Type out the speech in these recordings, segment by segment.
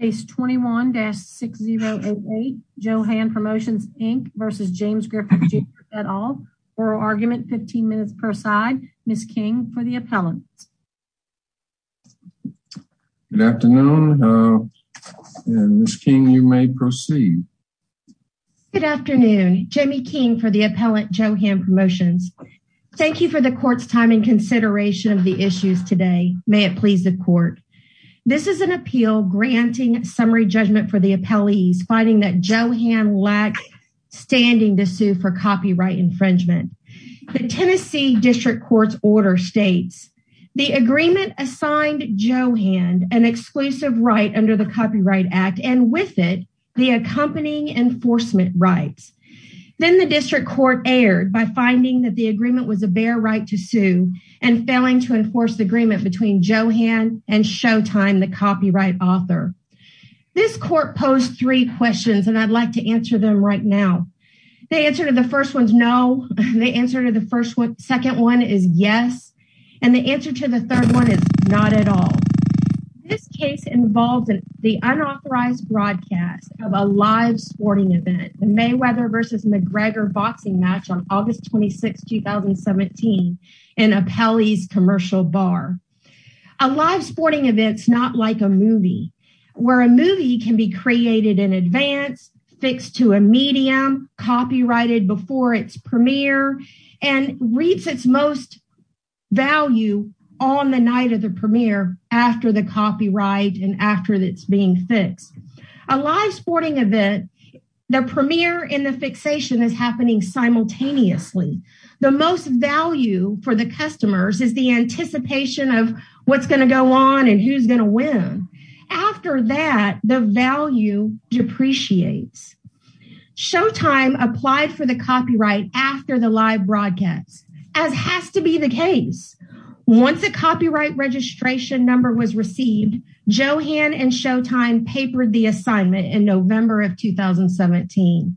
Case 21-6088, Joe Hand Promotions Inc v. James Griffith Jr, et al. Oral argument, 15 minutes per side. Ms. King for the appellant. Good afternoon. Ms. King, you may proceed. Good afternoon. Jamie King for the appellant, Joe Hand Promotions. Thank you for the court's time and consideration of the issues today. May it please the court. This is an appeal granting summary judgment for the appellees finding that Joe Hand lacked standing to sue for copyright infringement. The Tennessee District Court's order states, the agreement assigned Joe Hand an exclusive right under the Copyright Act and with it, the accompanying enforcement rights. Then the district court erred by finding that the agreement was a bare right to sue and failing to enforce the agreement between Joe Hand and Showtime, the copyright author. This court posed three questions and I'd like to answer them right now. The answer to the first one is no. The answer to the second one is yes. And the answer to the third one is not at all. This case involves the unauthorized broadcast of a live sporting event, the Mayweather versus McGregor boxing match on August 26, 2017 in Appellee's Commercial Bar. A live sporting event's not like a movie, where a movie can be created in advance, fixed to a medium, copyrighted before its premiere, and reads its most value on the night of the premiere after the copyright and after it's being fixed. A live sporting event, the premiere and the fixation is happening simultaneously. The most value for the customers is the anticipation of what's going to go on and who's going to win. After that, the value depreciates. Showtime applied for the copyright after the live broadcast, as has to be the case. Once a copyright registration number was received, Johan and Showtime papered the assignment in November of 2017.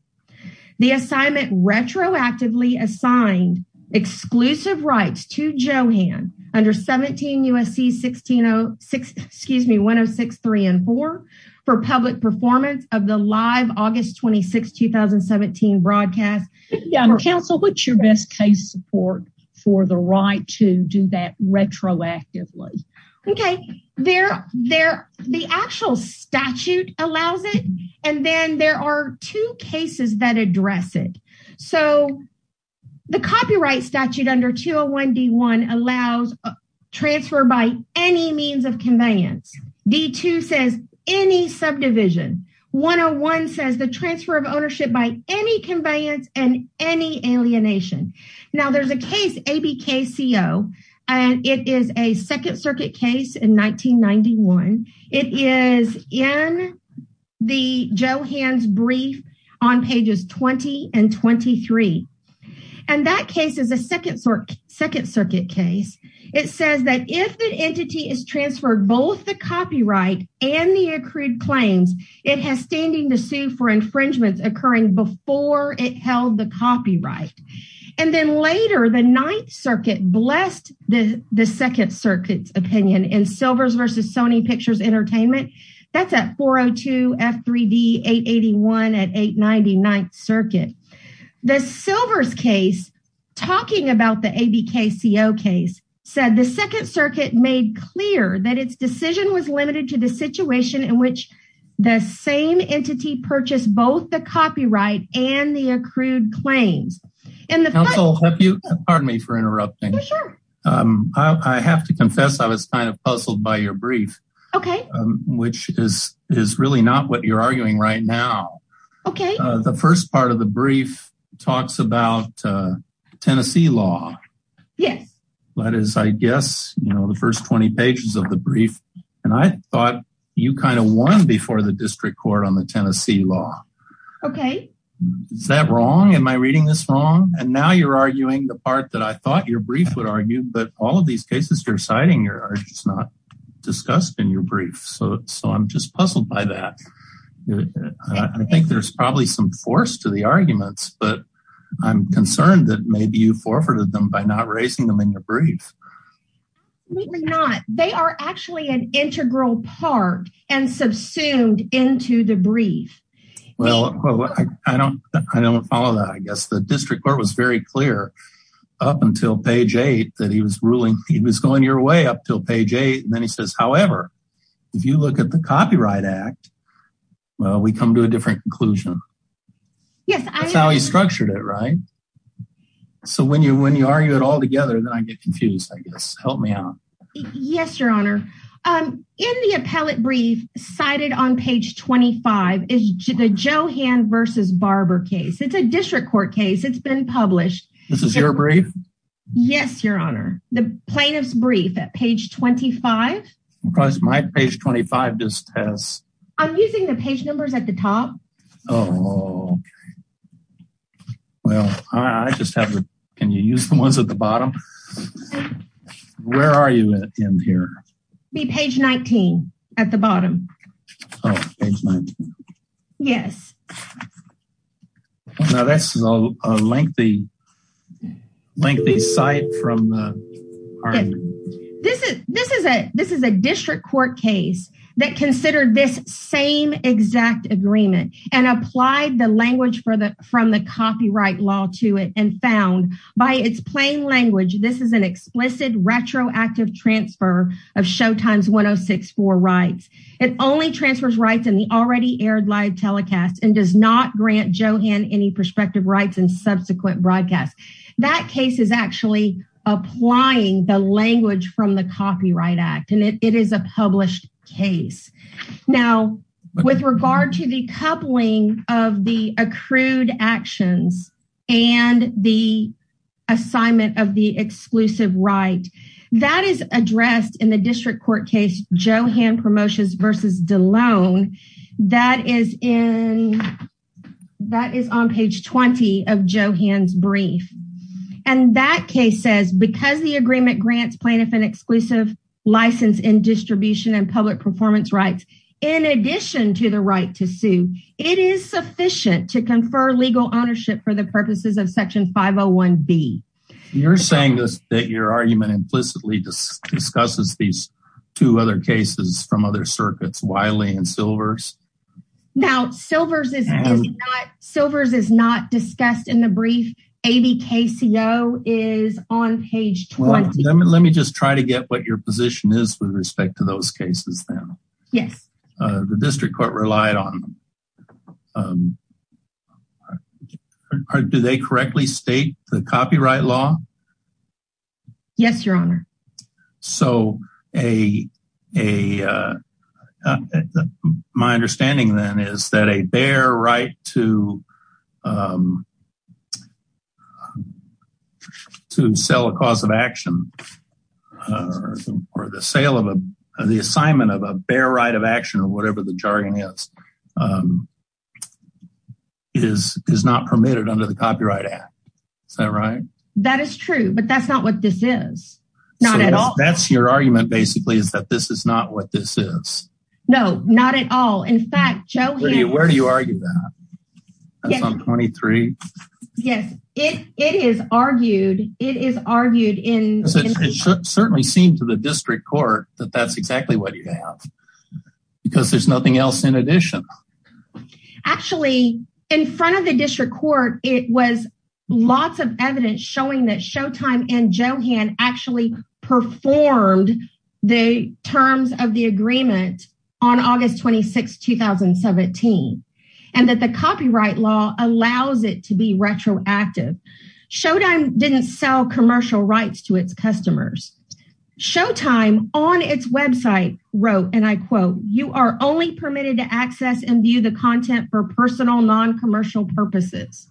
The assignment retroactively assigned exclusive rights to Johan under 17 U.S.C. 1606, excuse me, 106.3 and 4 for public performance of the live August 26, 2017 broadcast. Counsel, what's your best case support for the right to do that retroactively? Okay, the actual statute allows it, and then there are two cases that address it. So, the copyright statute under 201 D1 allows transfer by any means of conveyance. D2 says any subdivision. 101 says the transfer of ownership by any conveyance and any alienation. Now, there's a case, ABKCO, and it is a second circuit case in 1991. It is in the Johan's brief on pages 20 and 23, and that case is a second circuit case. It says that if the entity is transferred both the copyright and the accrued claims, it has standing to sue for infringements occurring before it held the copyright. And then later, the Ninth Circuit blessed the second circuit's opinion in Silvers v. Sony Pictures Entertainment. That's at 402 F3D 881 at 890 Ninth Circuit. The Silvers case, talking about the ABKCO case, said the second circuit made clear that its decision was limited to the situation in which the same entity purchased both the copyright and the accrued claims. And the- Counsel, if you, pardon me for interrupting. Sure. I have to confess I was kind of puzzled by your brief. Okay. Which is really not what you're arguing right now. Okay. The first part of the brief talks about Tennessee law. Yes. That is, I guess, you know, the first 20 pages of the brief, and I thought you kind of won before the district court on the Tennessee law. Okay. Is that wrong? Am I reading this wrong? And now you're arguing the part that I thought your brief would argue, but all of these cases you're citing here are just not discussed in your brief. So I'm just puzzled by that. I think there's probably some force to the arguments, but I'm concerned that maybe you forfeited them by not raising them in your brief. We did not. They are actually an integral part and subsumed into the brief. Well, I don't follow that. I guess the district court was very clear up until page eight that he was ruling he was going your way up until page eight. And then he says, however, if you look at the Copyright Act, well, we come to a different conclusion. Yes, I- That's how he structured it, right? So when you argue it all together, then I get confused, I guess. Help me out. Yes, your honor. In the appellate brief cited on page 25 is the Johan versus Barber case. It's a district court case. It's been published. This is your brief? Yes, your honor. The plaintiff's brief at page 25. Because my page 25 just has- I'm using the page numbers at the top. Oh, well, I just have to- can you use the ones at the bottom? Where are you in here? Be page 19 at the bottom. Oh, page 19. Yes. Now, that's a lengthy, lengthy site from the- This is a district court case that considered this same exact agreement. Applied the language from the copyright law to it and found by its plain language, this is an explicit retroactive transfer of Showtime's 1064 rights. It only transfers rights in the already aired live telecast and does not grant Johan any prospective rights in subsequent broadcasts. That case is actually applying the language from the Copyright Act, and it is a published case. Now, with regard to the coupling of the accrued actions and the assignment of the exclusive right, that is addressed in the district court case Johan Promotions v. DeLone. That is in- that is on page 20 of Johan's brief. And that case says, because the agreement grants plaintiff an exclusive license in distribution and public performance rights, in addition to the right to sue, it is sufficient to confer legal ownership for the purposes of Section 501B. You're saying that your argument implicitly discusses these two other cases from other circuits, Wiley and Silvers? Now, Silvers is not discussed in the brief. ABKCO is on page 20. Let me just try to get what your position is with respect to those cases now. Yes. The district court relied on them. Do they correctly state the copyright law? Yes, your honor. So a- my understanding then is that a bare right to to sell a cause of action or the sale of a- the assignment of a bare right of action, or whatever the jargon is, is not permitted under the Copyright Act. Is that right? That is true, but that's not what this is. Not at all. So that's your argument, basically, is that this is not what this is. No, not at all. In fact, Johan- Where do you argue that? That's on 23? Yes, it is argued. It is argued in- It should certainly seem to the district court that that's exactly what you have, because there's nothing else in addition. Actually, in front of the district court, it was lots of evidence showing that Showtime and Johan actually performed the terms of the agreement on August 26, 2017, and that the copyright law allows it to be retroactive. Showtime didn't sell commercial rights to its customers. Showtime on its website wrote, and I quote, you are only permitted to access and view the content for personal non-commercial purposes.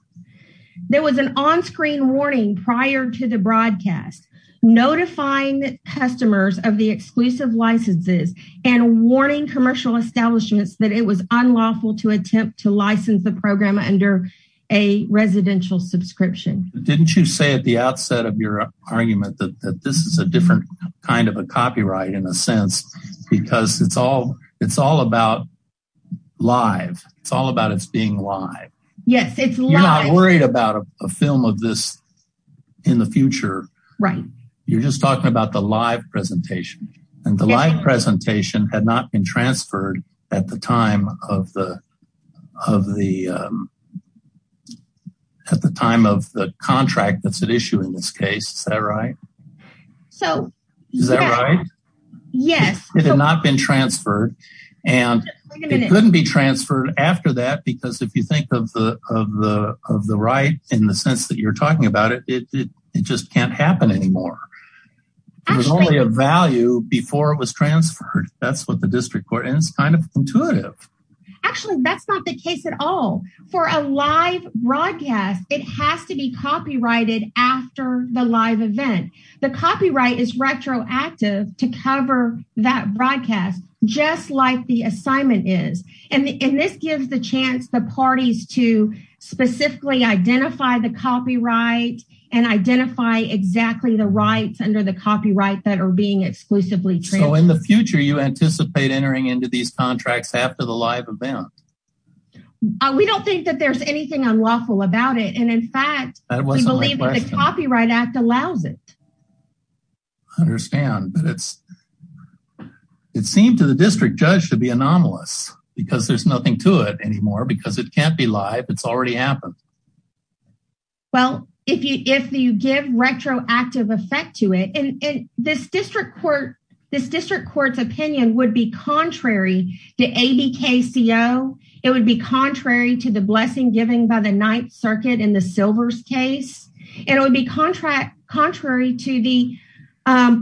There was an on-screen warning prior to the broadcast, notifying customers of the exclusive licenses and warning commercial establishments that it was unlawful to attempt to license the program under a residential subscription. Didn't you say at the outset of your argument that this is a different kind of a copyright, in a sense, because it's all about live. It's all about its being live. Yes, it's live. You're not worried about a film of this in the future. Right. You're just talking about the live presentation, and the live presentation had not been transferred at the time of the contract that's at issue in this case. Is that right? So, yeah. Is that right? Yes. It had not been transferred, and it couldn't be transferred after that, because if you think of the right in the sense that you're talking about it, it just can't happen anymore. There was only a value before it was transferred. That's what the district court, and it's kind of intuitive. Actually, that's not the case at all. For a live broadcast, it has to be copyrighted after the live event. The copyright is retroactive to cover that broadcast, just like the assignment is, and this gives the chance the parties to specifically identify the copyright and identify exactly the rights under the copyright that are being exclusively transferred. So, in the future, you anticipate entering into these contracts after the live event? We don't think that there's anything unlawful about it, and in fact, I believe the Copyright Act allows it. I understand, but it seemed to the district judge to be anomalous, because there's nothing to it anymore, because it can't be live. It's already happened. Well, if you give retroactive effect to it, and this district court's opinion would be contrary to ABKCO. It would be contrary to the blessing given by the Ninth Circuit in the Silvers case, and it would be contrary to the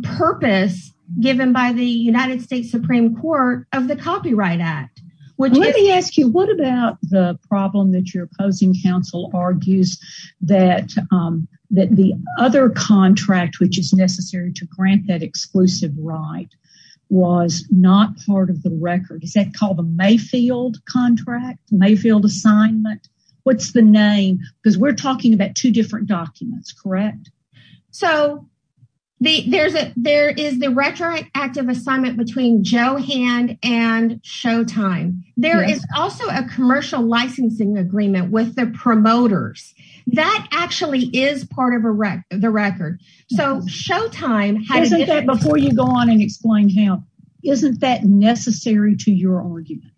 purpose given by the United States Supreme Court of the Copyright Act. Let me ask you, what about the problem that your opposing counsel argues that the other contract, which is necessary to grant that exclusive right, was not part of the record? Is that called the Mayfield contract, Mayfield assignment? What's the name? Because we're talking about two different documents, correct? So, there is the retroactive assignment between Johan and Showtime. There is also a commercial licensing agreement with the promoters. That actually is part of the record. So, Showtime- Before you go on and explain camp, isn't that necessary to your argument?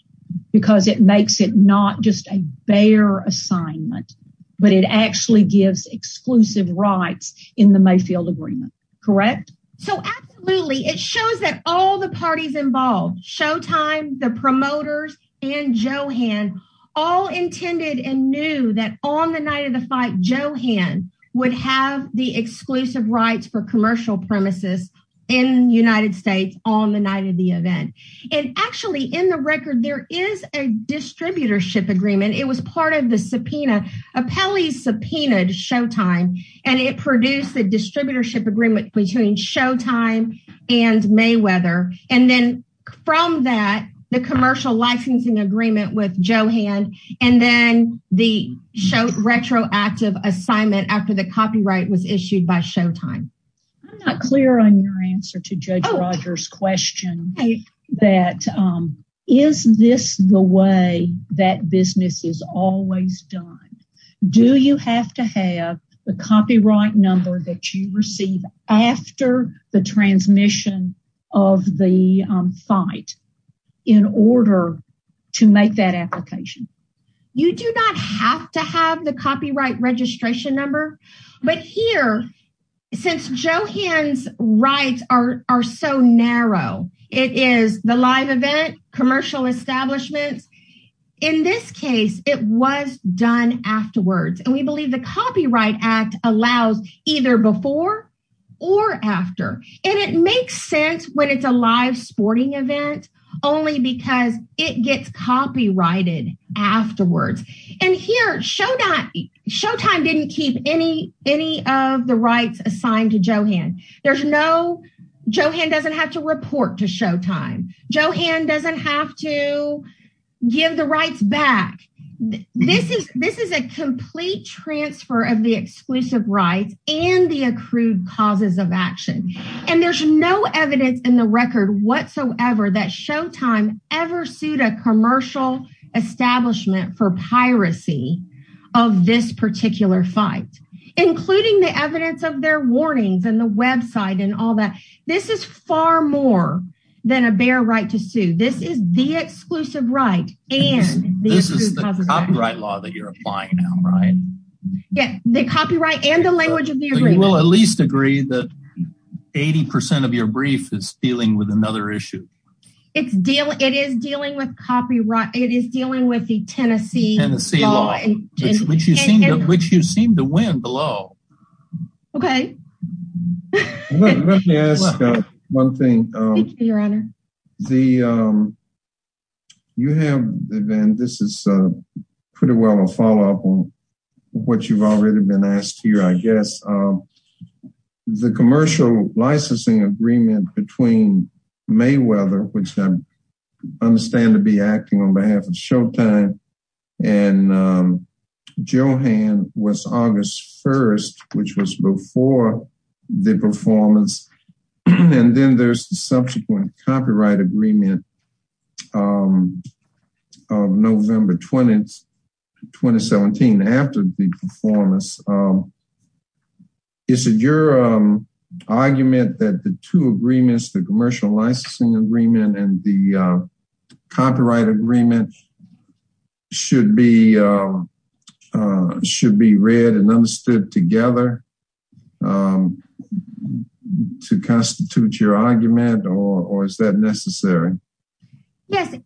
Because it makes it not just a bare assignment, but it actually gives exclusive rights in the Mayfield agreement, correct? So, absolutely. It shows that all the parties involved, Showtime, the promoters, and Johan, all intended and knew that on the night of the fight, Johan would have the exclusive rights for commercial premises in the United States on the night of the event. And actually, in the record, there is a distributorship agreement. It was part of the subpoena. Apelli subpoenaed Showtime, and it produced a distributorship agreement between Showtime and Mayweather. And then from that, the commercial licensing agreement with Johan, and then the retroactive assignment after the copyright was issued by Showtime. I'm not clear on your answer to Judge Rogers' question that, is this the way that business is always done? Do you have to have the copyright number that you receive after the transmission of the fight in order to make that application? You do not have to have the copyright registration number, but here, since Johan's rights are so narrow, it is the live event, commercial establishments. In this case, it was done afterwards. And we believe the Copyright Act allows either before or after. And it makes sense when it's a live sporting event, only because it gets copyrighted afterwards. And here, Showtime didn't keep any of the rights assigned to Johan. There's no, Johan doesn't have to report to Showtime. Johan doesn't have to give the rights back. This is a complete transfer of the exclusive rights and the accrued causes of action. And there's no evidence in the record whatsoever that Showtime ever sued a commercial establishment for piracy of this particular fight, including the evidence of their warnings and the website and all that. This is far more than a bare right to sue. This is the exclusive right. And this is the copyright law that you're applying now, right? Yeah, the copyright and the language of the agreement. We'll at least agree that 80% of your brief is dealing with another issue. It's dealing, it is dealing with copyright. It is dealing with the Tennessee Tennessee law, which you seem to win below. Okay. Let me ask one thing, Your Honor. You have, this is pretty well a follow up on what you've already been asked here, I guess. The commercial licensing agreement between Mayweather, which I understand to be acting on behalf of Showtime, and Johann was August 1, which was before the performance. And then there's the subsequent copyright agreement of November 20, 2017. After the performance, is it your argument that the two agreements, the commercial licensing agreement and the copyright agreement should be should be read and understood together to constitute your argument? Or is that necessary? Yes.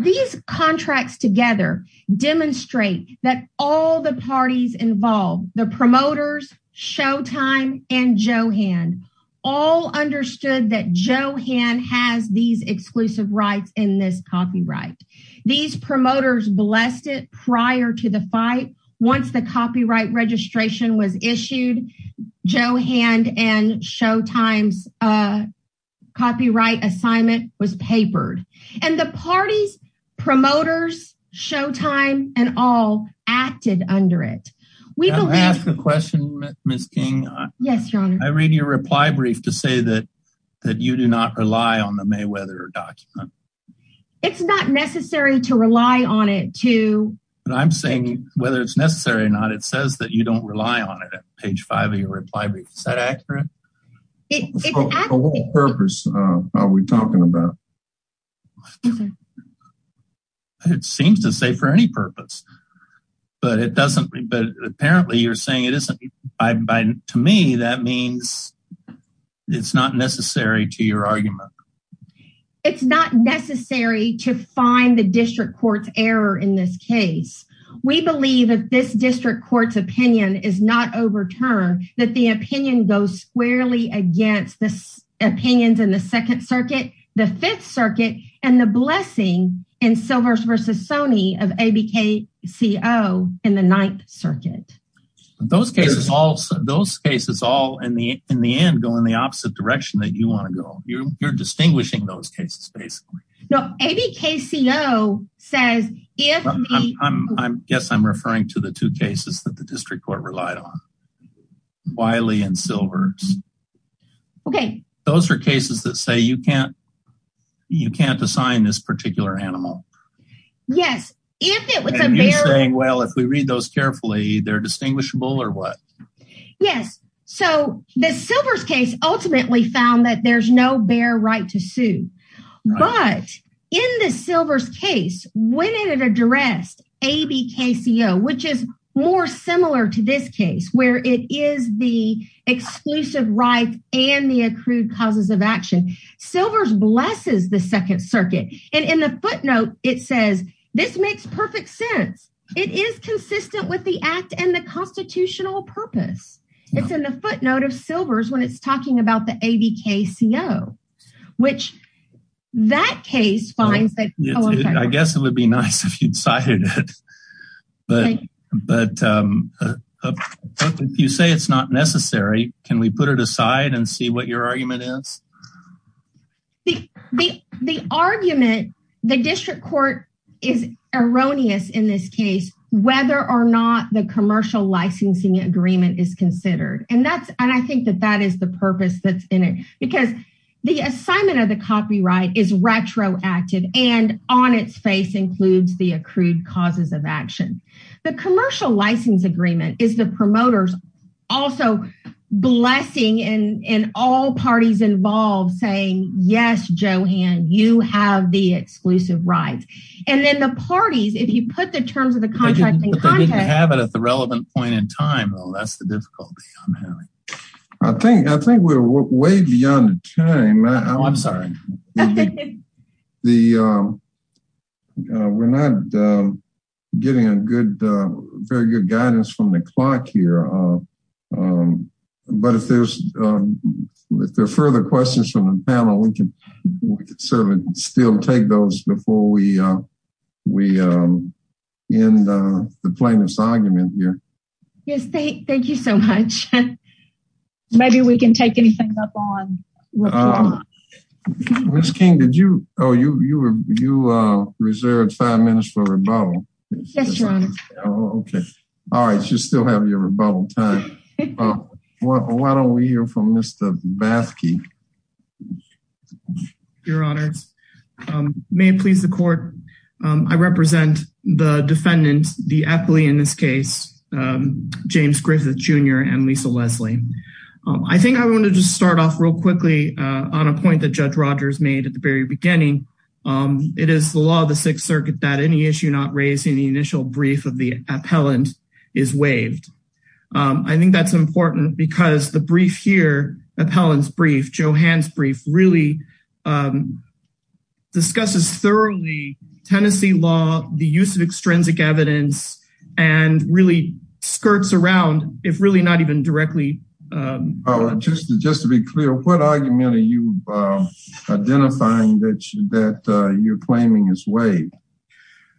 These contracts together demonstrate that all the parties involved, the promoters, Showtime, and Johann all understood that Johann has these exclusive rights in this copyright. These promoters blessed it prior to the fight. Once the copyright registration was issued, Johann and Showtime's copyright assignment was papered. And the parties, promoters, Showtime, and all acted under it. We ask the question, Miss King. Yes, Your Honor. I read your reply brief to say that you do not rely on the Mayweather document. It's not necessary to rely on it to. But I'm saying whether it's necessary or not, it says that you don't rely on it at page five of your reply brief. Is that accurate? For what purpose are we talking about? It seems to say for any purpose. But it doesn't. But apparently you're saying it isn't. To me, that means it's not necessary to your argument. It's not necessary to find the district court's error in this case. We believe that this district court's opinion is not overturned, that the opinion goes squarely against the opinions in the Second Circuit, the Fifth Circuit, and the blessing in Silvers v. Sony of ABKCO in the Ninth Circuit. Those cases all, in the end, go in the opposite direction that you want to go. You're distinguishing those cases, basically. No, ABKCO says, if me. I guess I'm referring to the two cases that the district court relied on. Wiley and Silvers. Okay. Those are cases that say you can't assign this particular animal. Yes, if it was a bear. And you're saying, well, if we read those carefully, they're distinguishable or what? Yes. So the Silvers case ultimately found that there's no bear right to sue. But in the Silvers case, when it addressed ABKCO, which is more similar to this case, where it is the exclusive right and the accrued causes of action, Silvers blesses the Second Circuit. And in the footnote, it says, this makes perfect sense. It is consistent with the act and the constitutional purpose. It's in the footnote of Silvers when it's talking about the ABKCO, which that case finds that. I guess it would be nice if you decided it. But you say it's not necessary. Can we put it aside and see what your argument is? The argument, the district court is erroneous in this case, whether or not the commercial licensing agreement is considered. And I think that that is the purpose that's in it. Because the assignment of the copyright is retroactive. And on its face includes the accrued causes of action. The commercial license agreement is the promoter's also blessing and all parties involved saying, yes, Johan, you have the exclusive rights. And then the parties, if you put the terms of the contract in context. But they didn't have it at the relevant point in time. Well, that's the difficulty I'm having. I think we're way beyond the time. I'm sorry. We're not getting a very good guidance from the clock here. But if there's further questions from the panel, we can certainly still take those before we end the plaintiff's argument here. Yes, thank you so much. Maybe we can take anything up on. Ms. King, did you? Oh, you reserved five minutes for rebuttal. Yes, your honor. Okay. All right. You still have your rebuttal time. Why don't we hear from Mr. Bathke? Your honor, may it please the court. I represent the defendant, the athlete in this case, James Griffith Jr. and Lisa Leslie. I think I want to just start off real quickly on a point that Judge Rogers made at the very beginning. It is the law of the Sixth Circuit that any issue not raised in the initial brief of the appellant is waived. I think that's important because the brief here, appellant's brief, Johann's brief, really discusses thoroughly Tennessee law, the use of extrinsic evidence, and really skirts around, if really not even directly. Oh, just to be clear, what argument are you identifying that you're claiming is waived?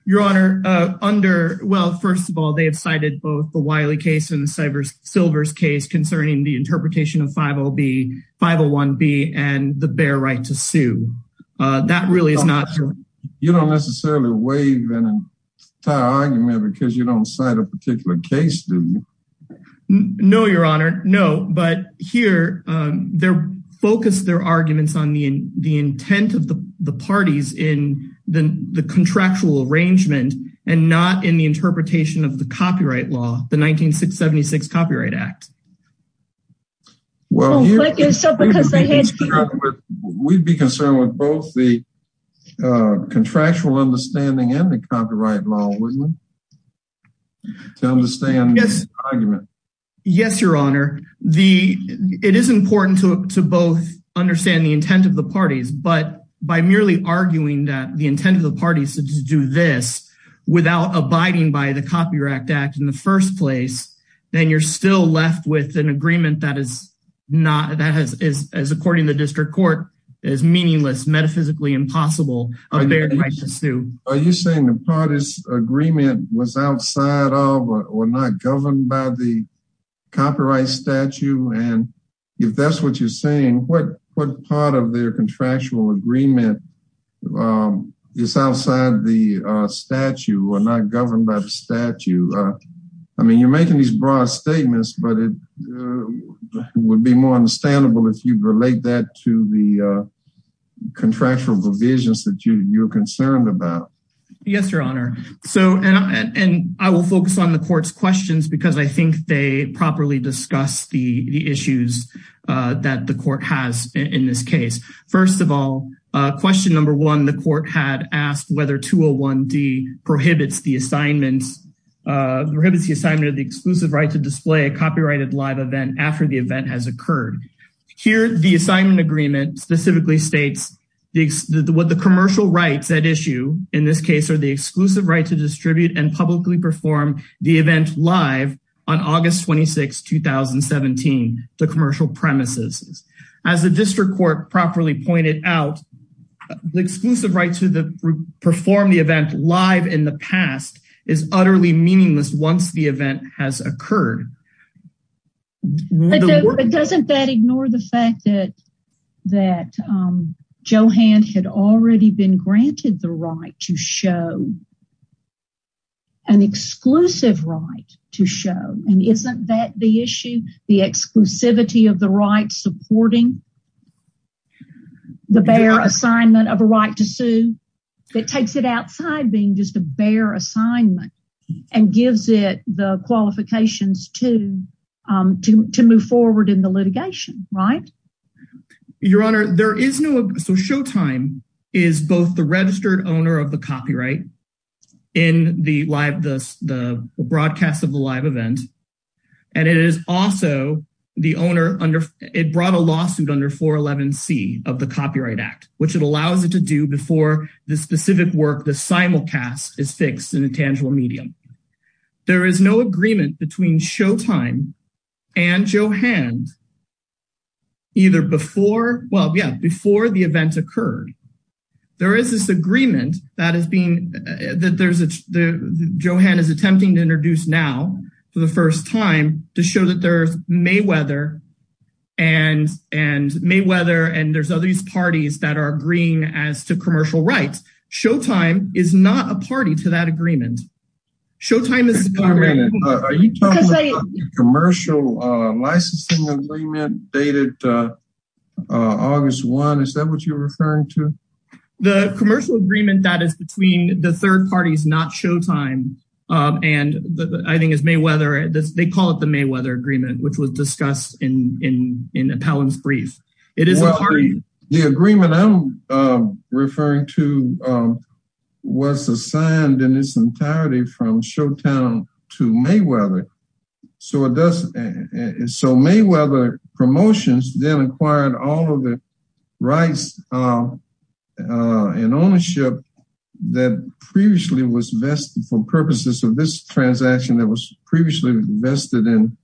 Your honor, under, well, first of all, they have cited both the Wiley case and the Silvers case concerning the interpretation of 501B and the bare right to sue. That really is not true. You don't necessarily waive an entire argument because you don't cite a particular case, do you? No, your honor. But here, they focus their arguments on the intent of the parties in the contractual arrangement and not in the interpretation of the copyright law, the 1976 Copyright Act. Well, we'd be concerned with both the contractual understanding and the copyright law, wouldn't we? To understand the argument. Yes, your honor. It is important to both understand the intent of the parties, but by merely arguing that the intent of the parties to do this without abiding by the Copyright Act in the first place, then you're still left with an agreement that is not, that is, as according to the district court, is meaningless, metaphysically impossible, a bare right to sue. Are you saying the parties' agreement was outside of or not governed by the copyright statute? And if that's what you're saying, what part of their contractual agreement is outside the statute or not governed by the statute? I mean, you're making these broad statements, but it would be more understandable if you relate that to the contractual provisions that you're concerned about. Yes, your honor. So, and I will focus on the court's questions because I think they properly discuss the issues that the court has in this case. First of all, question number one, the court had asked whether 201D prohibits the assignments, prohibits the assignment of the exclusive right to display a copyrighted live event after the event has occurred. Here, the assignment agreement specifically states what the commercial rights at issue in this case are the exclusive right to distribute and publicly perform the event live on August 26th, 2017, the commercial premises. As the district court properly pointed out, the exclusive right to perform the event live in the past is utterly meaningless once the event has occurred. But doesn't that ignore the fact that Johann had already been granted the right to show an exclusive right to show? And isn't that the issue, the exclusivity of the right supporting the bare assignment of a right to sue that takes it outside being just a bare assignment and gives it the qualifications to move forward in the litigation, right? Your honor, there is no, so Showtime is both the registered owner of the copyright in the broadcast of the live event, and it is also the owner under, it brought a lawsuit under 411C of the Copyright Act, which it allows it to do before the specific work, the simulcast is fixed in a tangible medium. There is no agreement between Showtime and Johann either before, well, yeah, before the event occurred. There is this agreement that has been, Johann is attempting to introduce now for the first time to show that there's Mayweather and there's other parties that are agreeing as to commercial rights. Showtime is not a party to that agreement. Showtime is- Are you talking about the commercial licensing agreement dated August 1? Is that what you're referring to? The commercial agreement that is between the third parties, not Showtime, and I think it's Mayweather, they call it the Mayweather agreement, which was discussed in Appellant's brief. It is a party- The agreement I'm referring to was assigned in its entirety from Showtime to Mayweather. So Mayweather Promotions then acquired all of the rights and ownership that previously was vested for purposes of this transaction that was previously vested in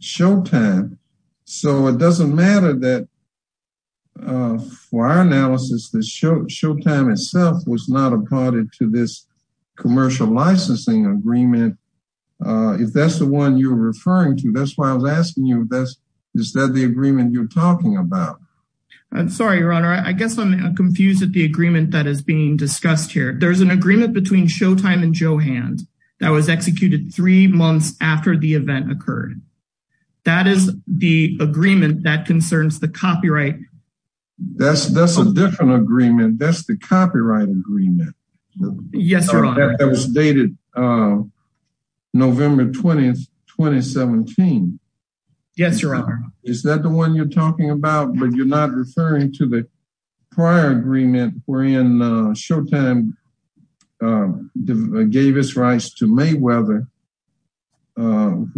Showtime. So it doesn't matter that for our analysis, Showtime itself was not a party to this commercial licensing agreement. If that's the one you're referring to, that's why I was asking you, is that the agreement you're talking about? I'm sorry, Your Honor. I guess I'm confused at the agreement that is being discussed here. There's an agreement between Showtime and Johann that was executed three months after the event occurred. That is the agreement that concerns the copyright. That's a different agreement. That's the copyright agreement. Yes, Your Honor. That was dated November 20th, 2017. Yes, Your Honor. Is that the one you're talking about, but you're not referring to the prior agreement wherein Showtime gave its rights to Mayweather on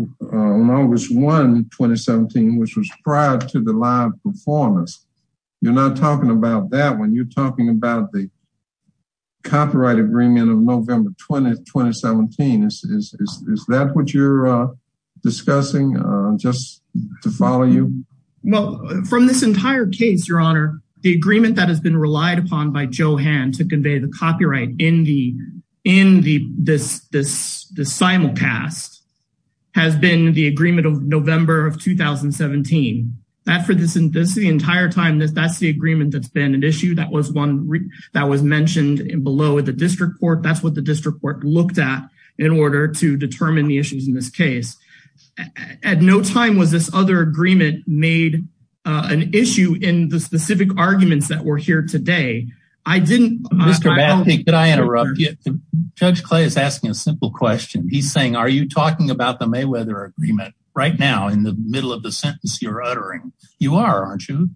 August 1, 2017, which was prior to the live performance? You're not talking about that when you're talking about the copyright agreement of November 20th, 2017. Is that what you're discussing, just to follow you? Well, from this entire case, Your Honor, the agreement that has been relied upon by Johann to convey the copyright in this simulcast has been the agreement of November of 2017. That for the entire time, that's the agreement that's been an issue. That was one that was mentioned below at the district court. That's what the district court looked at in order to determine the issues in this case. At no time was this other agreement made an issue in the specific arguments that were here today. I didn't- Mr. Bathey, could I interrupt you? Judge Clay is asking a simple question. He's saying, are you talking about the Mayweather agreement right now in the middle of the sentence you're uttering? You are, aren't you?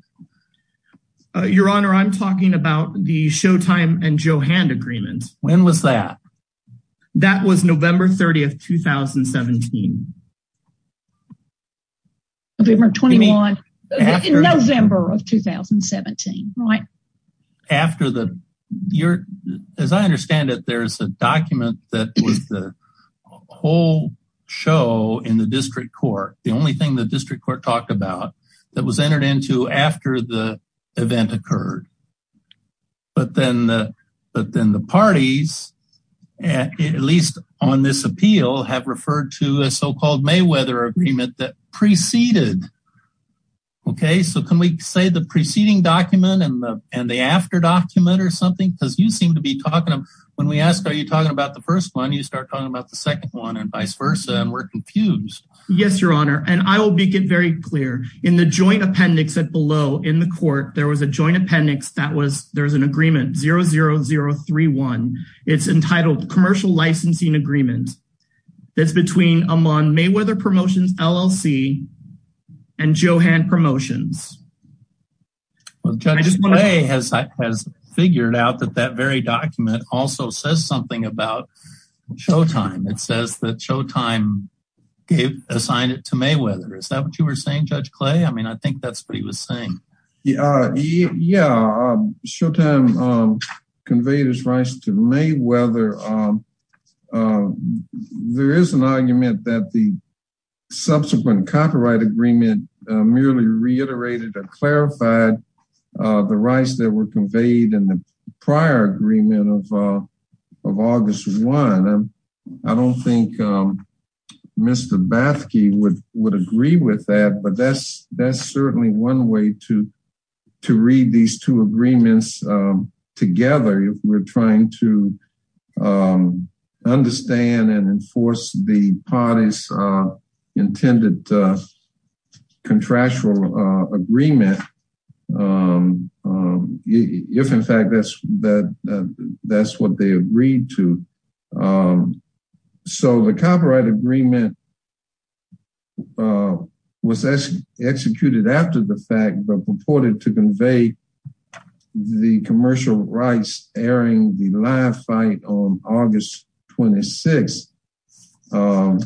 Your Honor, I'm talking about the Showtime and Johann agreement. When was that? That was November 30th, 2017. November 21, November of 2017, right? After the- As I understand it, there's a document that was the whole show in the district court. The only thing the district court talked about that was entered into after the event occurred. But then the parties, at least on this appeal, have referred to a so-called Mayweather agreement that preceded, okay? So can we say the preceding document and the after document or something? Because you seem to be talking, when we ask, are you talking about the first one? You start talking about the second one and vice versa. And we're confused. Yes, Your Honor. And I will make it very clear. In the joint appendix that below in the court, there was a joint appendix that was, there was an agreement, 00031. It's entitled Commercial Licensing Agreement. That's between Amman Mayweather Promotions LLC and Johann Promotions. Well, Judge Clay has figured out that that very document also says something about Showtime. It says that Showtime gave, assigned it to Mayweather. Is that what you were saying, Judge Clay? I mean, I think that's what he was saying. Yeah, Showtime conveyed his rights to Mayweather. There is an argument that the subsequent copyright agreement merely reiterated or clarified the rights that were conveyed in the prior agreement of August 1. I don't think Mr. Bathke would agree with that, but that's certainly one way to read these two agreements together. We're trying to understand and enforce the parties intended contractual agreement. If, in fact, that's what they agreed to. So the copyright agreement was executed after the fact, but purported to convey the commercial rights airing the live fight on August 26. Of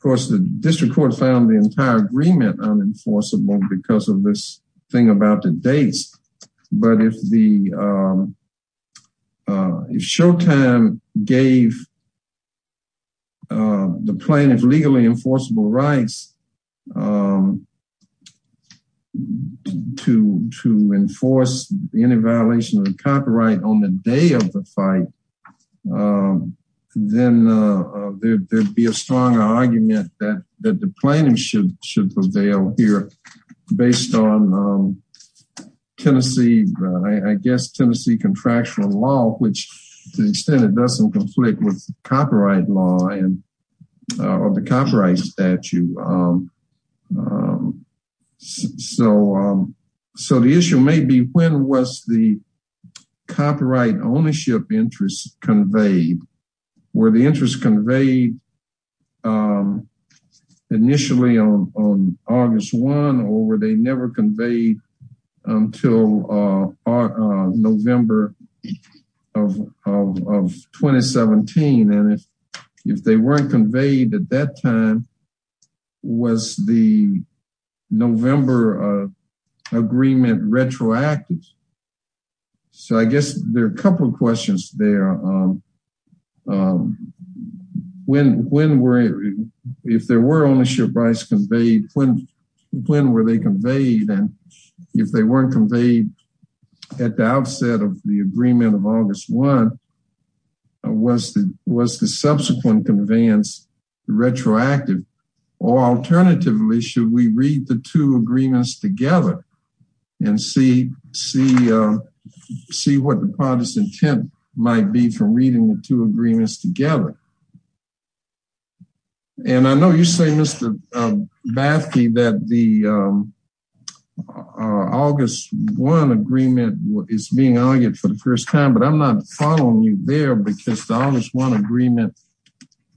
course, the district court found the entire agreement unenforceable because of this thing about the dates. But if Showtime gave the plaintiff legally enforceable rights to enforce any violation of the copyright on the day of the fight, then there'd be a stronger argument that the plaintiff should prevail here. Based on Tennessee, I guess, Tennessee contractual law, which to the extent it doesn't conflict with copyright law and the copyright statute. So the issue may be when was the copyright ownership interest conveyed? Were the interests conveyed initially on August 1 or were they never conveyed until November of 2017? And if they weren't conveyed at that time, was the November agreement retroactive? So I guess there are a couple of questions there. When were, if there were ownership rights conveyed, when were they conveyed? And if they weren't conveyed at the outset of the agreement of August 1, was the subsequent conveyance retroactive? Or alternatively, should we read the two agreements together and see what the parties intent might be from reading the two agreements together? And I know you say, Mr. Bathke, that the August 1 agreement is being argued for the first time, but I'm not following you there because the August 1 agreement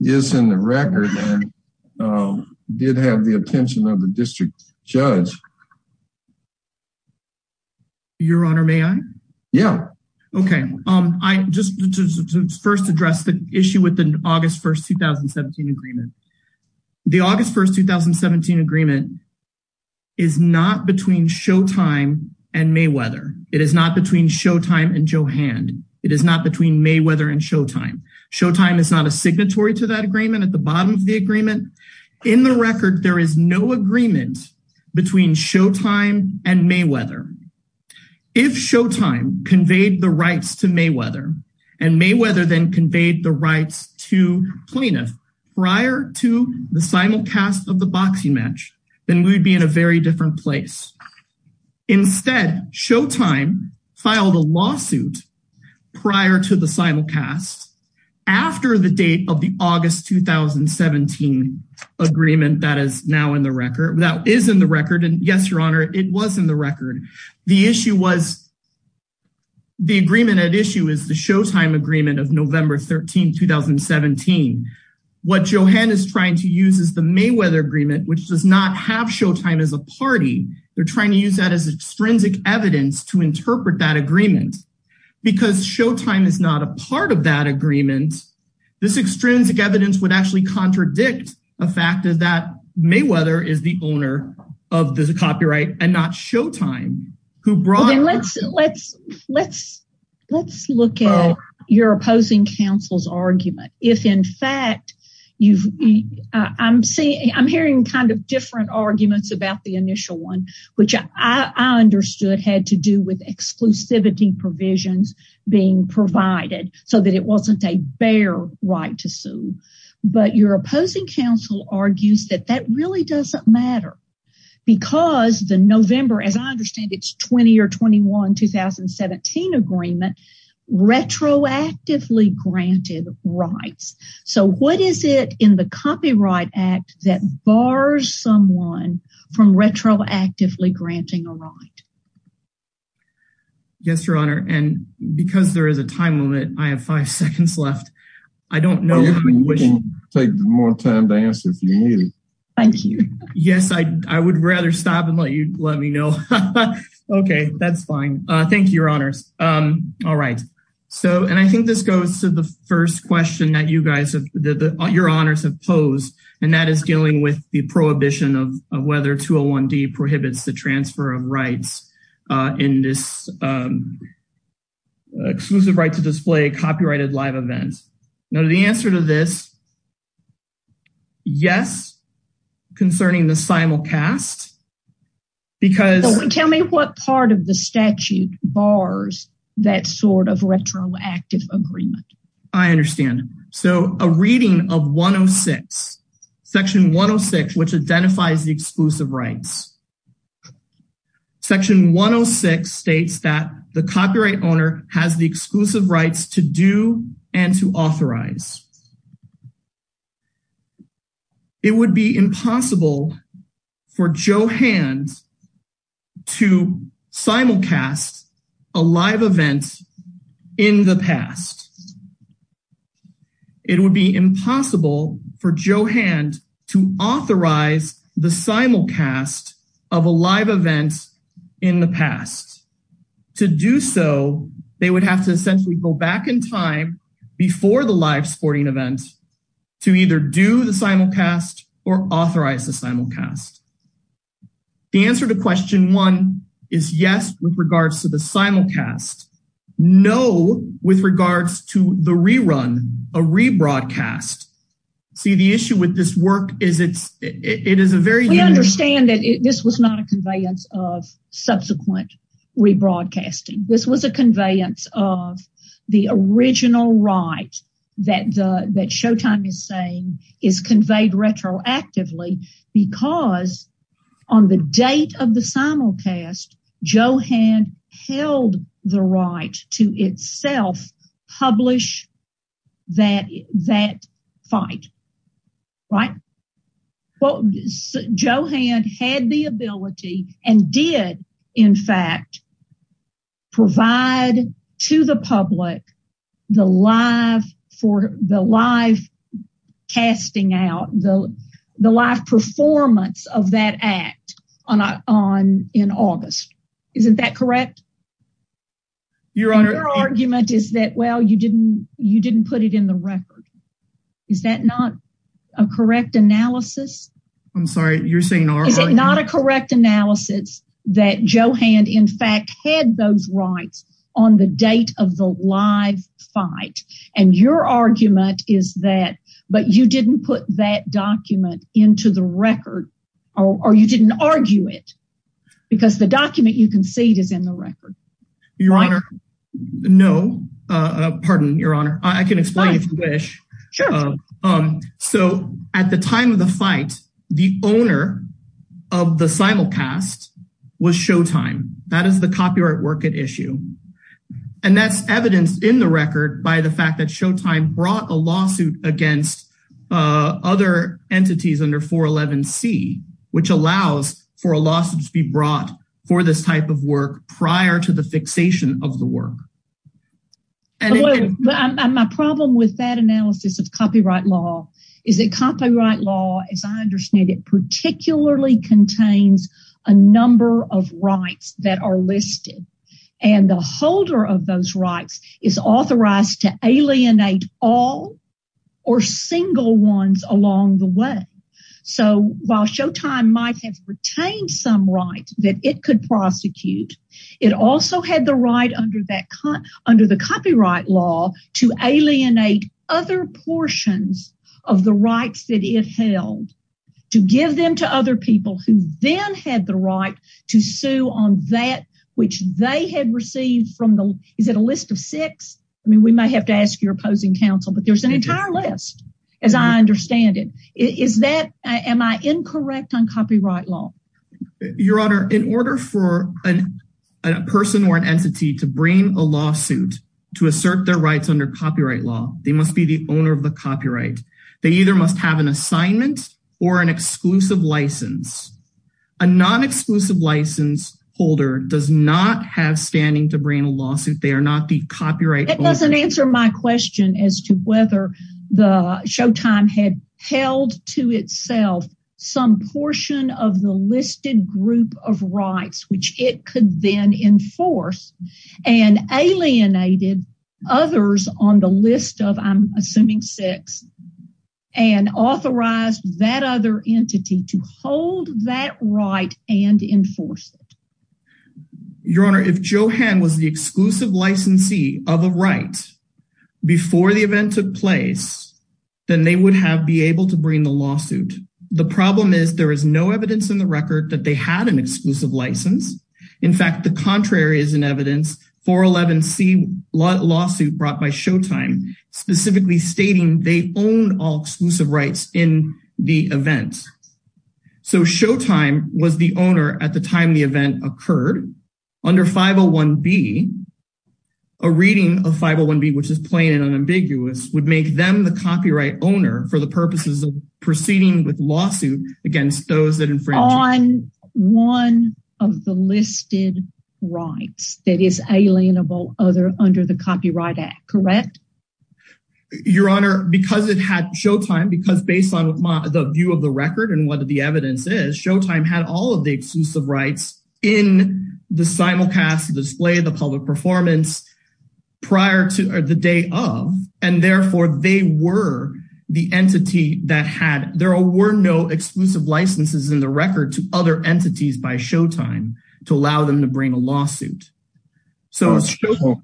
is in the record and did have the attention of the district judge. Your Honor, may I? Yeah. Okay. I just first address the issue with the August 1, 2017 agreement. The August 1, 2017 agreement is not between Showtime and Mayweather. It is not between Showtime and Johand. It is not between Mayweather and Showtime. Showtime is not a signatory to that agreement at the bottom of the agreement. In the record, there is no agreement between Showtime and Mayweather. If Showtime conveyed the rights to Mayweather, and Mayweather then conveyed the rights to Plaintiff prior to the simulcast of the boxing match, then we'd be in a very different place. Instead, Showtime filed a lawsuit prior to the simulcast after the date of the August 2017 agreement that is now in the record, that is in the record, and yes, Your Honor, it was in the record. The issue was the agreement at issue is the Showtime agreement of November 13, 2017. What Johand is trying to use is the Mayweather agreement, which does not have Showtime as a party. They're trying to use that as extrinsic evidence to interpret that agreement because Showtime is not a part of that agreement. This extrinsic evidence would actually contradict the fact that Mayweather is the owner of the copyright and not Showtime. Let's look at your opposing counsel's argument. If in fact, I'm hearing kind of different arguments about the initial one, which I understood had to do with exclusivity provisions being provided so that it wasn't a bare right to sue, but your opposing counsel argues that that really doesn't matter because the November, as I understand, it's 20 or 21, 2017 agreement, retroactively granted rights. What is it in the Copyright Act that bars someone from retroactively granting a right? Yes, Your Honor, and because there is a time limit, I have five seconds left. I don't know. Well, you can take more time to answer if you need it. Thank you. Yes, I would rather stop and let you let me know. Okay, that's fine. Thank you, Your Honors. All right. And I think this goes to the first question that you guys, your honors have posed, and that is dealing with the prohibition of whether 201D prohibits the transfer of rights in this exclusive right to display a copyrighted live event. Now, the answer to this, yes, concerning the simulcast, because- that sort of retroactive agreement. I understand. So a reading of 106, Section 106, which identifies the exclusive rights. Section 106 states that the copyright owner has the exclusive rights to do and to authorize. It would be impossible for Johan to simulcast a live event in the past. It would be impossible for Johan to authorize the simulcast of a live event in the past. To do so, they would have to essentially go back in time before the live sports event event to either do the simulcast or authorize the simulcast. The answer to question one is yes, with regards to the simulcast. No, with regards to the rerun, a rebroadcast. See, the issue with this work is it's, it is a very- We understand that this was not a conveyance of subsequent rebroadcasting. This was a conveyance of the original right that Showtime is saying is conveyed retroactively because on the date of the simulcast, Johan held the right to itself publish that fight, right? Well, Johan had the ability and did, in fact, provide to the public the live casting out, the live performance of that act in August. Isn't that correct? Your Honor- And your argument is that, well, you didn't put it in the record. Is that not a correct analysis? I'm sorry, you're saying- Is it not a correct analysis that Johan, in fact, had those rights on the date of the live fight? And your argument is that, but you didn't put that document into the record, or you didn't argue it because the document you concede is in the record. Your Honor, no. Pardon, Your Honor. I can explain if you wish. So at the time of the fight, the owner of the simulcast was Showtime. That is the copyright work at issue. And that's evidenced in the record by the fact that Showtime brought a lawsuit against other entities under 411C, which allows for a lawsuit to be brought for this type of work prior to the fixation of the work. And my problem with that analysis of copyright law is that copyright law, as I understand it, particularly contains a number of rights that are listed. And the holder of those rights is authorized to alienate all or single ones along the way. So while Showtime might have retained some rights that it could prosecute, it also had the right under the copyright law to alienate other portions of the rights that it held to give them to other people who then had the right to sue on that which they had received from the, is it a list of six? I mean, we might have to ask your opposing counsel, but there's an entire list, as I understand it. Am I incorrect on copyright law? Your Honor, in order for a person or an entity to bring a lawsuit to assert their rights under copyright law, they must be the owner of the copyright. They either must have an assignment or an exclusive license. A non-exclusive license holder does not have standing to bring a lawsuit. They are not the copyright owner. It doesn't answer my question as to whether the Showtime had held to itself some portion of the listed group of rights which it could then enforce and alienated others on the list of, I'm assuming six, and authorized that other entity to hold that right and enforce it. Your Honor, if Johan was the exclusive licensee of a right before the event took place, then they would have be able to bring the lawsuit. The problem is there is no evidence in the record that they had an exclusive license. In fact, the contrary is in evidence, 411C lawsuit brought by Showtime, specifically stating they own all exclusive rights in the event. So Showtime was the owner at the time the event occurred. Under 501B, a reading of 501B, which is plain and unambiguous, would make them the copyright owner for the purposes of proceeding with lawsuit against those that infringed. On one of the listed rights that is alienable under the Copyright Act, correct? Your Honor, because it had Showtime, because based on the view of the record and what the evidence is, Showtime had all of the exclusive rights in the simulcast display, the public performance, prior to the day of. And therefore, they were the entity that had, there were no exclusive licenses in the record to other entities by Showtime to allow them to bring a lawsuit. Counselor,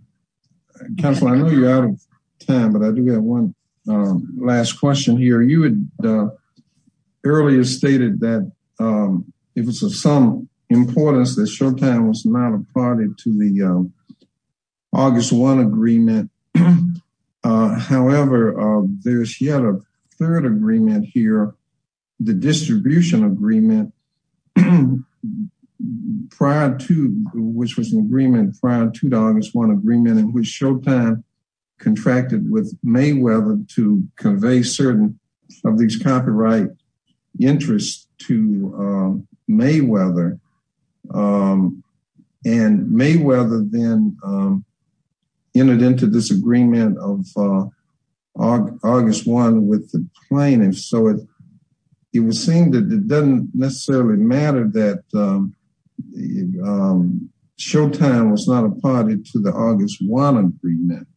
I know you're out of time, but I do have one last question here. You had earlier stated that it was of some importance that Showtime was not a party to the August 1 agreement. However, there's yet a third agreement here, the distribution agreement, prior to, which was an agreement prior to the August 1 agreement in which Showtime contracted with Mayweather to convey certain of these copyright interests to Mayweather. And Mayweather then entered into this agreement of August 1 with the plaintiffs. So, it was saying that it doesn't necessarily matter that Showtime was not a party to the August 1 agreement,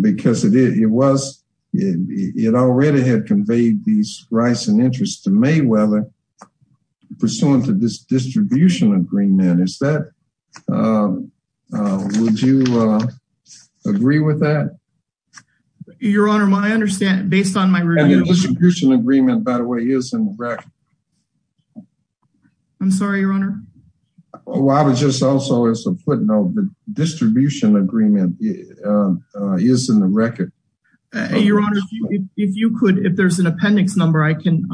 because it was, it already had conveyed these rights and interests to Mayweather pursuant to this distribution agreement. Is that, would you agree with that? Your Honor, my understanding, based on my review. And the distribution agreement, by the way, is in the record. I'm sorry, Your Honor. Well, I was just also, as a footnote, the distribution agreement is in the record. Your Honor, if you could, if there's an appendix number, I can,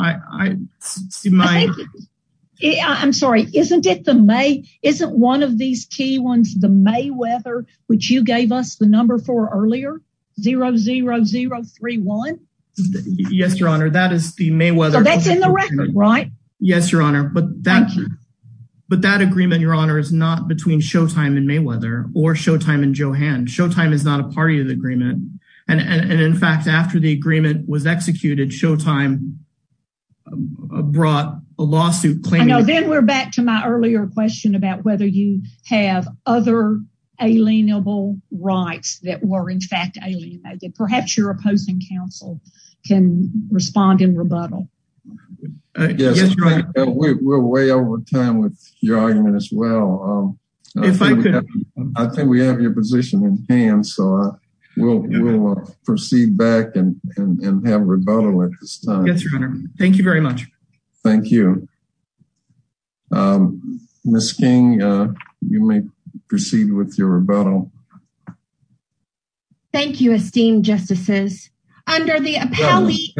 I'm sorry, isn't it the May, isn't one of these key ones, the Mayweather, which you gave us the number for earlier, 00031? Yes, Your Honor, that is the Mayweather. That's in the record, right? Yes, Your Honor, but that agreement, Your Honor, is not between Showtime and Mayweather, or Showtime and Johan. Showtime is not a party to the agreement. And, in fact, after the agreement was executed, Showtime brought a lawsuit. I know, then we're back to my earlier question about whether you have other alienable rights that were, in fact, alienated. Perhaps your opposing counsel can respond in rebuttal. Yes, Your Honor, we're way over time with your argument as well. I think we have your position in hand. We'll proceed back and have rebuttal at this time. Yes, Your Honor, thank you very much. Thank you. Ms. King, you may proceed with your rebuttal. Thank you, esteemed justices. Under the appellee's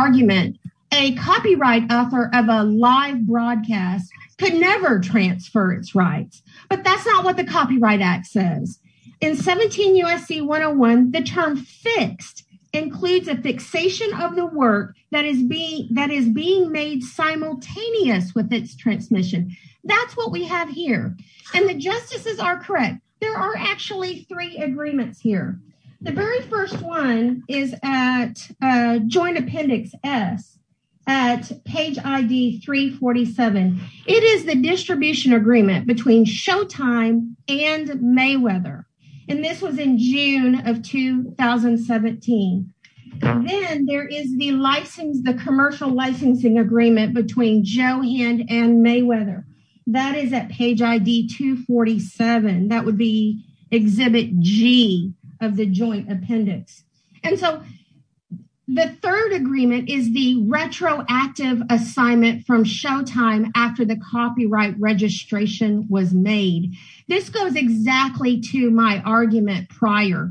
argument, a copyright author of a live broadcast could never transfer its rights, but that's not what the Copyright Act says. In 17 U.S.C. 101, the term fixed includes a fixation of the work that is being made simultaneous with its transmission. That's what we have here, and the justices are correct. There are actually three agreements here. The very first one is at Joint Appendix S at page ID 347. It is the distribution agreement between Showtime and Mayweather, and this was in June of 2017. Then there is the license, the commercial licensing agreement between Johan and Mayweather. That is at page ID 247. That would be Exhibit G of the Joint Appendix. The third agreement is the retroactive assignment from Showtime after the copyright registration was made. This goes exactly to my argument prior.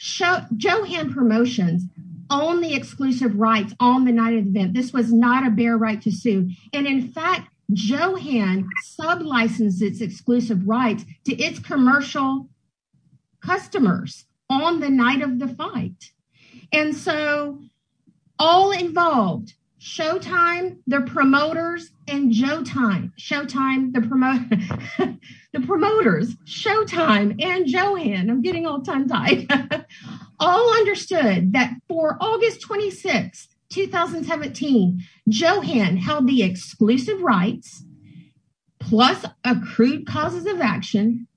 Johan Promotions owned the exclusive rights on the night of the event. This was not a bare right to sue. In fact, Johan sub-licensed its exclusive rights to its commercial customers on the night of the fight. All involved, Showtime, the promoters, and Johan all understood that for August 26, 2017, Johan held the exclusive rights plus accrued causes of action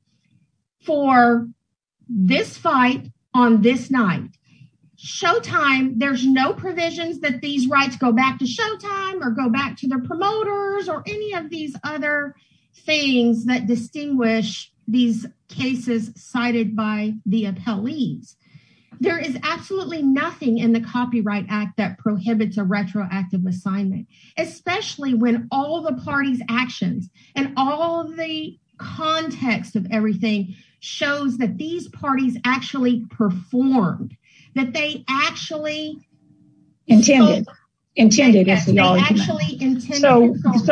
for this fight on this night. Showtime, there's no provisions that these rights go back to Showtime or go back to the promoters or any of these other things that distinguish these cases cited by the appellees. There is absolutely nothing in the Copyright Act that prohibits a retroactive assignment, especially when all the party's actions and all the context of everything shows that these parties actually performed, that they actually intended. So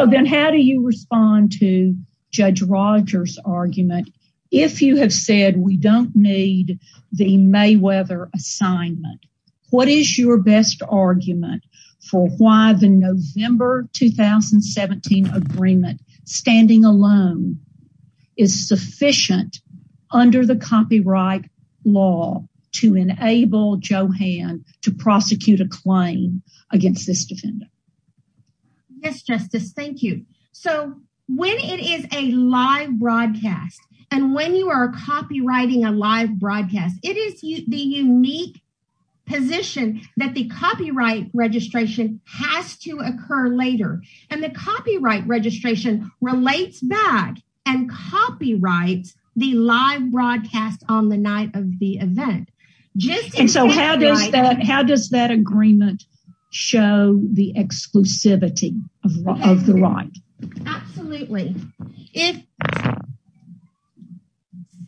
then how do you respond to Judge Rogers' argument? If you have said we don't need the Mayweather assignment, what is your best argument for why the November 2017 agreement, standing alone, is sufficient under the copyright law to enable Johan to prosecute a claim against this defendant? Yes, Justice. Thank you. So when it is a live broadcast and when you are copywriting a live broadcast, it is the unique position that the copyright registration has to occur later, and the copyright registration relates back and copyrights the live broadcast on the night of the event. And so how does that agreement show the exclusivity of the right? Absolutely.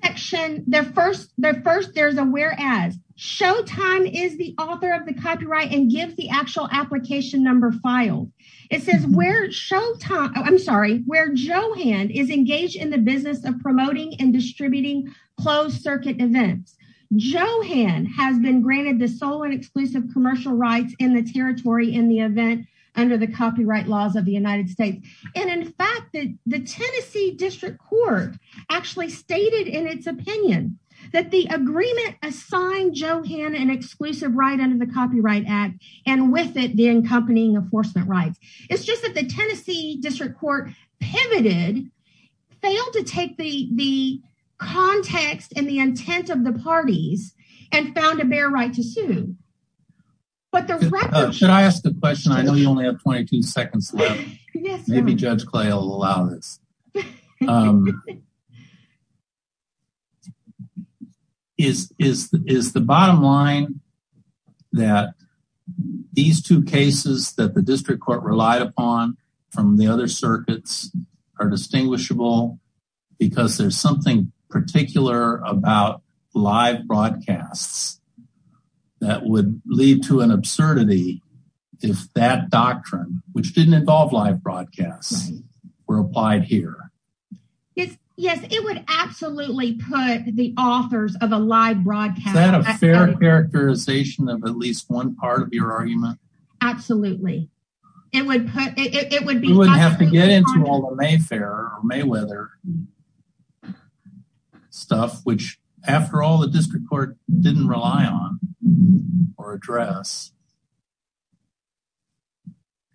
The first there's a whereas. Showtime is the author of the copyright and gives the actual application number file. It says where Showtime, I'm sorry, where Johan is engaged in the business of promoting and distributing closed circuit events. Johan has been granted the sole and exclusive commercial rights in the territory in the event under the copyright laws of the United States. And in fact, the Tennessee District Court actually stated in its opinion that the agreement assigned Johan an exclusive right under the Copyright Act and with it the accompanying enforcement rights. It's just that the Tennessee District Court pivoted, failed to take the context and the but the record. Should I ask the question? I know you only have 22 seconds left. Maybe Judge Clay will allow this. Is the bottom line that these two cases that the District Court relied upon from the other circuits are distinguishable because there's something particular about live broadcasts that would lead to an absurdity if that doctrine, which didn't involve live broadcasts, were applied here? Yes, it would absolutely put the authors of a live broadcast. Is that a fair characterization of at least one part of your argument? Absolutely, it would put it would be. You wouldn't have to get into all the Mayfair or Mayweather stuff, which after all, the District Court didn't rely on or address.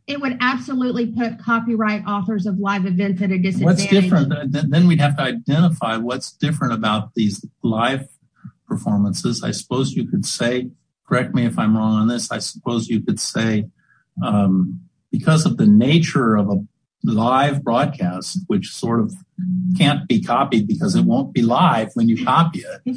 It would absolutely put copyright authors of live events at a disadvantage. What's different? Then we'd have to identify what's different about these live performances. I suppose you could say, correct me if I'm wrong on this, I suppose you could say that because of the nature of a live broadcast, which sort of can't be copied because it won't be live when you copy it,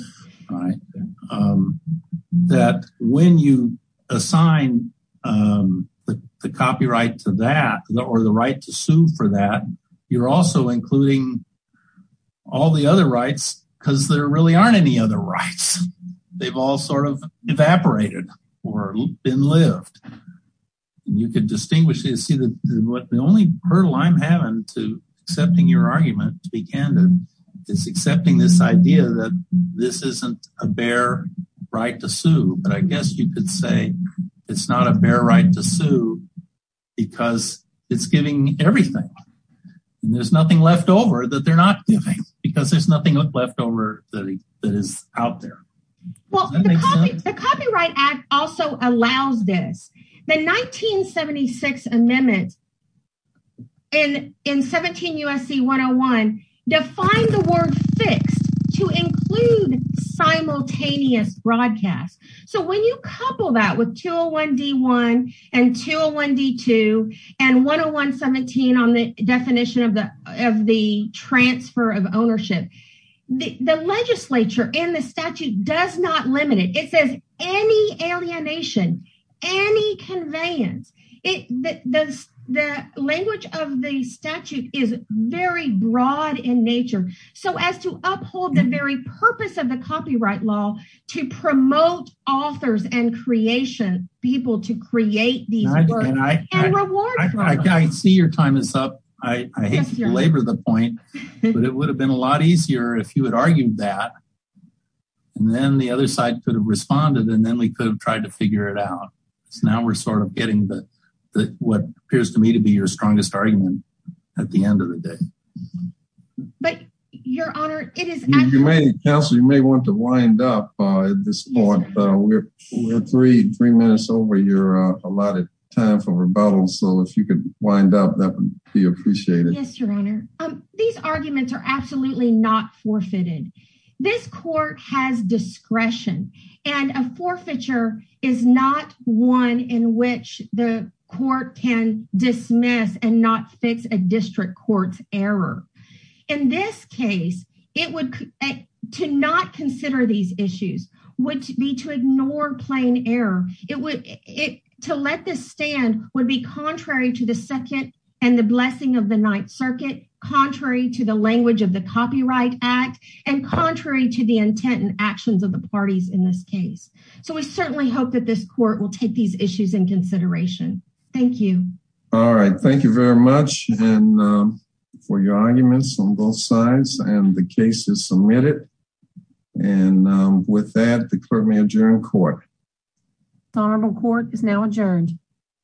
that when you assign the copyright to that or the right to sue for that, you're also including all the other rights because there really aren't any other rights. They've all sort of evaporated or been lived. You could distinguish, see that what the only hurdle I'm having to accepting your argument, to be candid, is accepting this idea that this isn't a bare right to sue. But I guess you could say it's not a bare right to sue because it's giving everything. There's nothing left over that they're not giving because there's nothing left over that is out there. Well, the Copyright Act also allows this. The 1976 amendment in 17 U.S.C. 101 defined the word fixed to include simultaneous broadcast. So when you couple that with 201-D1 and 201-D2 and 101-17 on the definition of the transfer of ownership, the legislature and the statute does not limit it. It says any alienation, any conveyance. The language of the statute is very broad in nature. So as to uphold the very purpose of the copyright law to promote authors and creation, people to create these works and reward for them. I see your time is up. I hate to belabor the point, but it would have been a lot easier if you had argued that and then the other side could have responded and then we could have tried to figure it out. So now we're sort of getting what appears to me to be your strongest argument at the end of the day. But your honor, it is actually... Counselor, you may want to wind up at this point. We're three minutes over your allotted time for rebuttal. So if you could wind up, that would be appreciated. Yes, your honor. These arguments are absolutely not forfeited. This court has discretion and a forfeiture is not one in which the court can dismiss and not fix a district court's error. In this case, to not consider these issues would be to ignore plain error. It would... to let this stand would be contrary to the Second and the Blessing of the Ninth Circuit, contrary to the language of the Copyright Act, and contrary to the intent and actions of the parties in this case. So we certainly hope that this court will take these issues in consideration. Thank you. All right. Thank you very much for your arguments on both sides and the cases submitted. And with that, the clerk may adjourn court. Honorable court is now adjourned.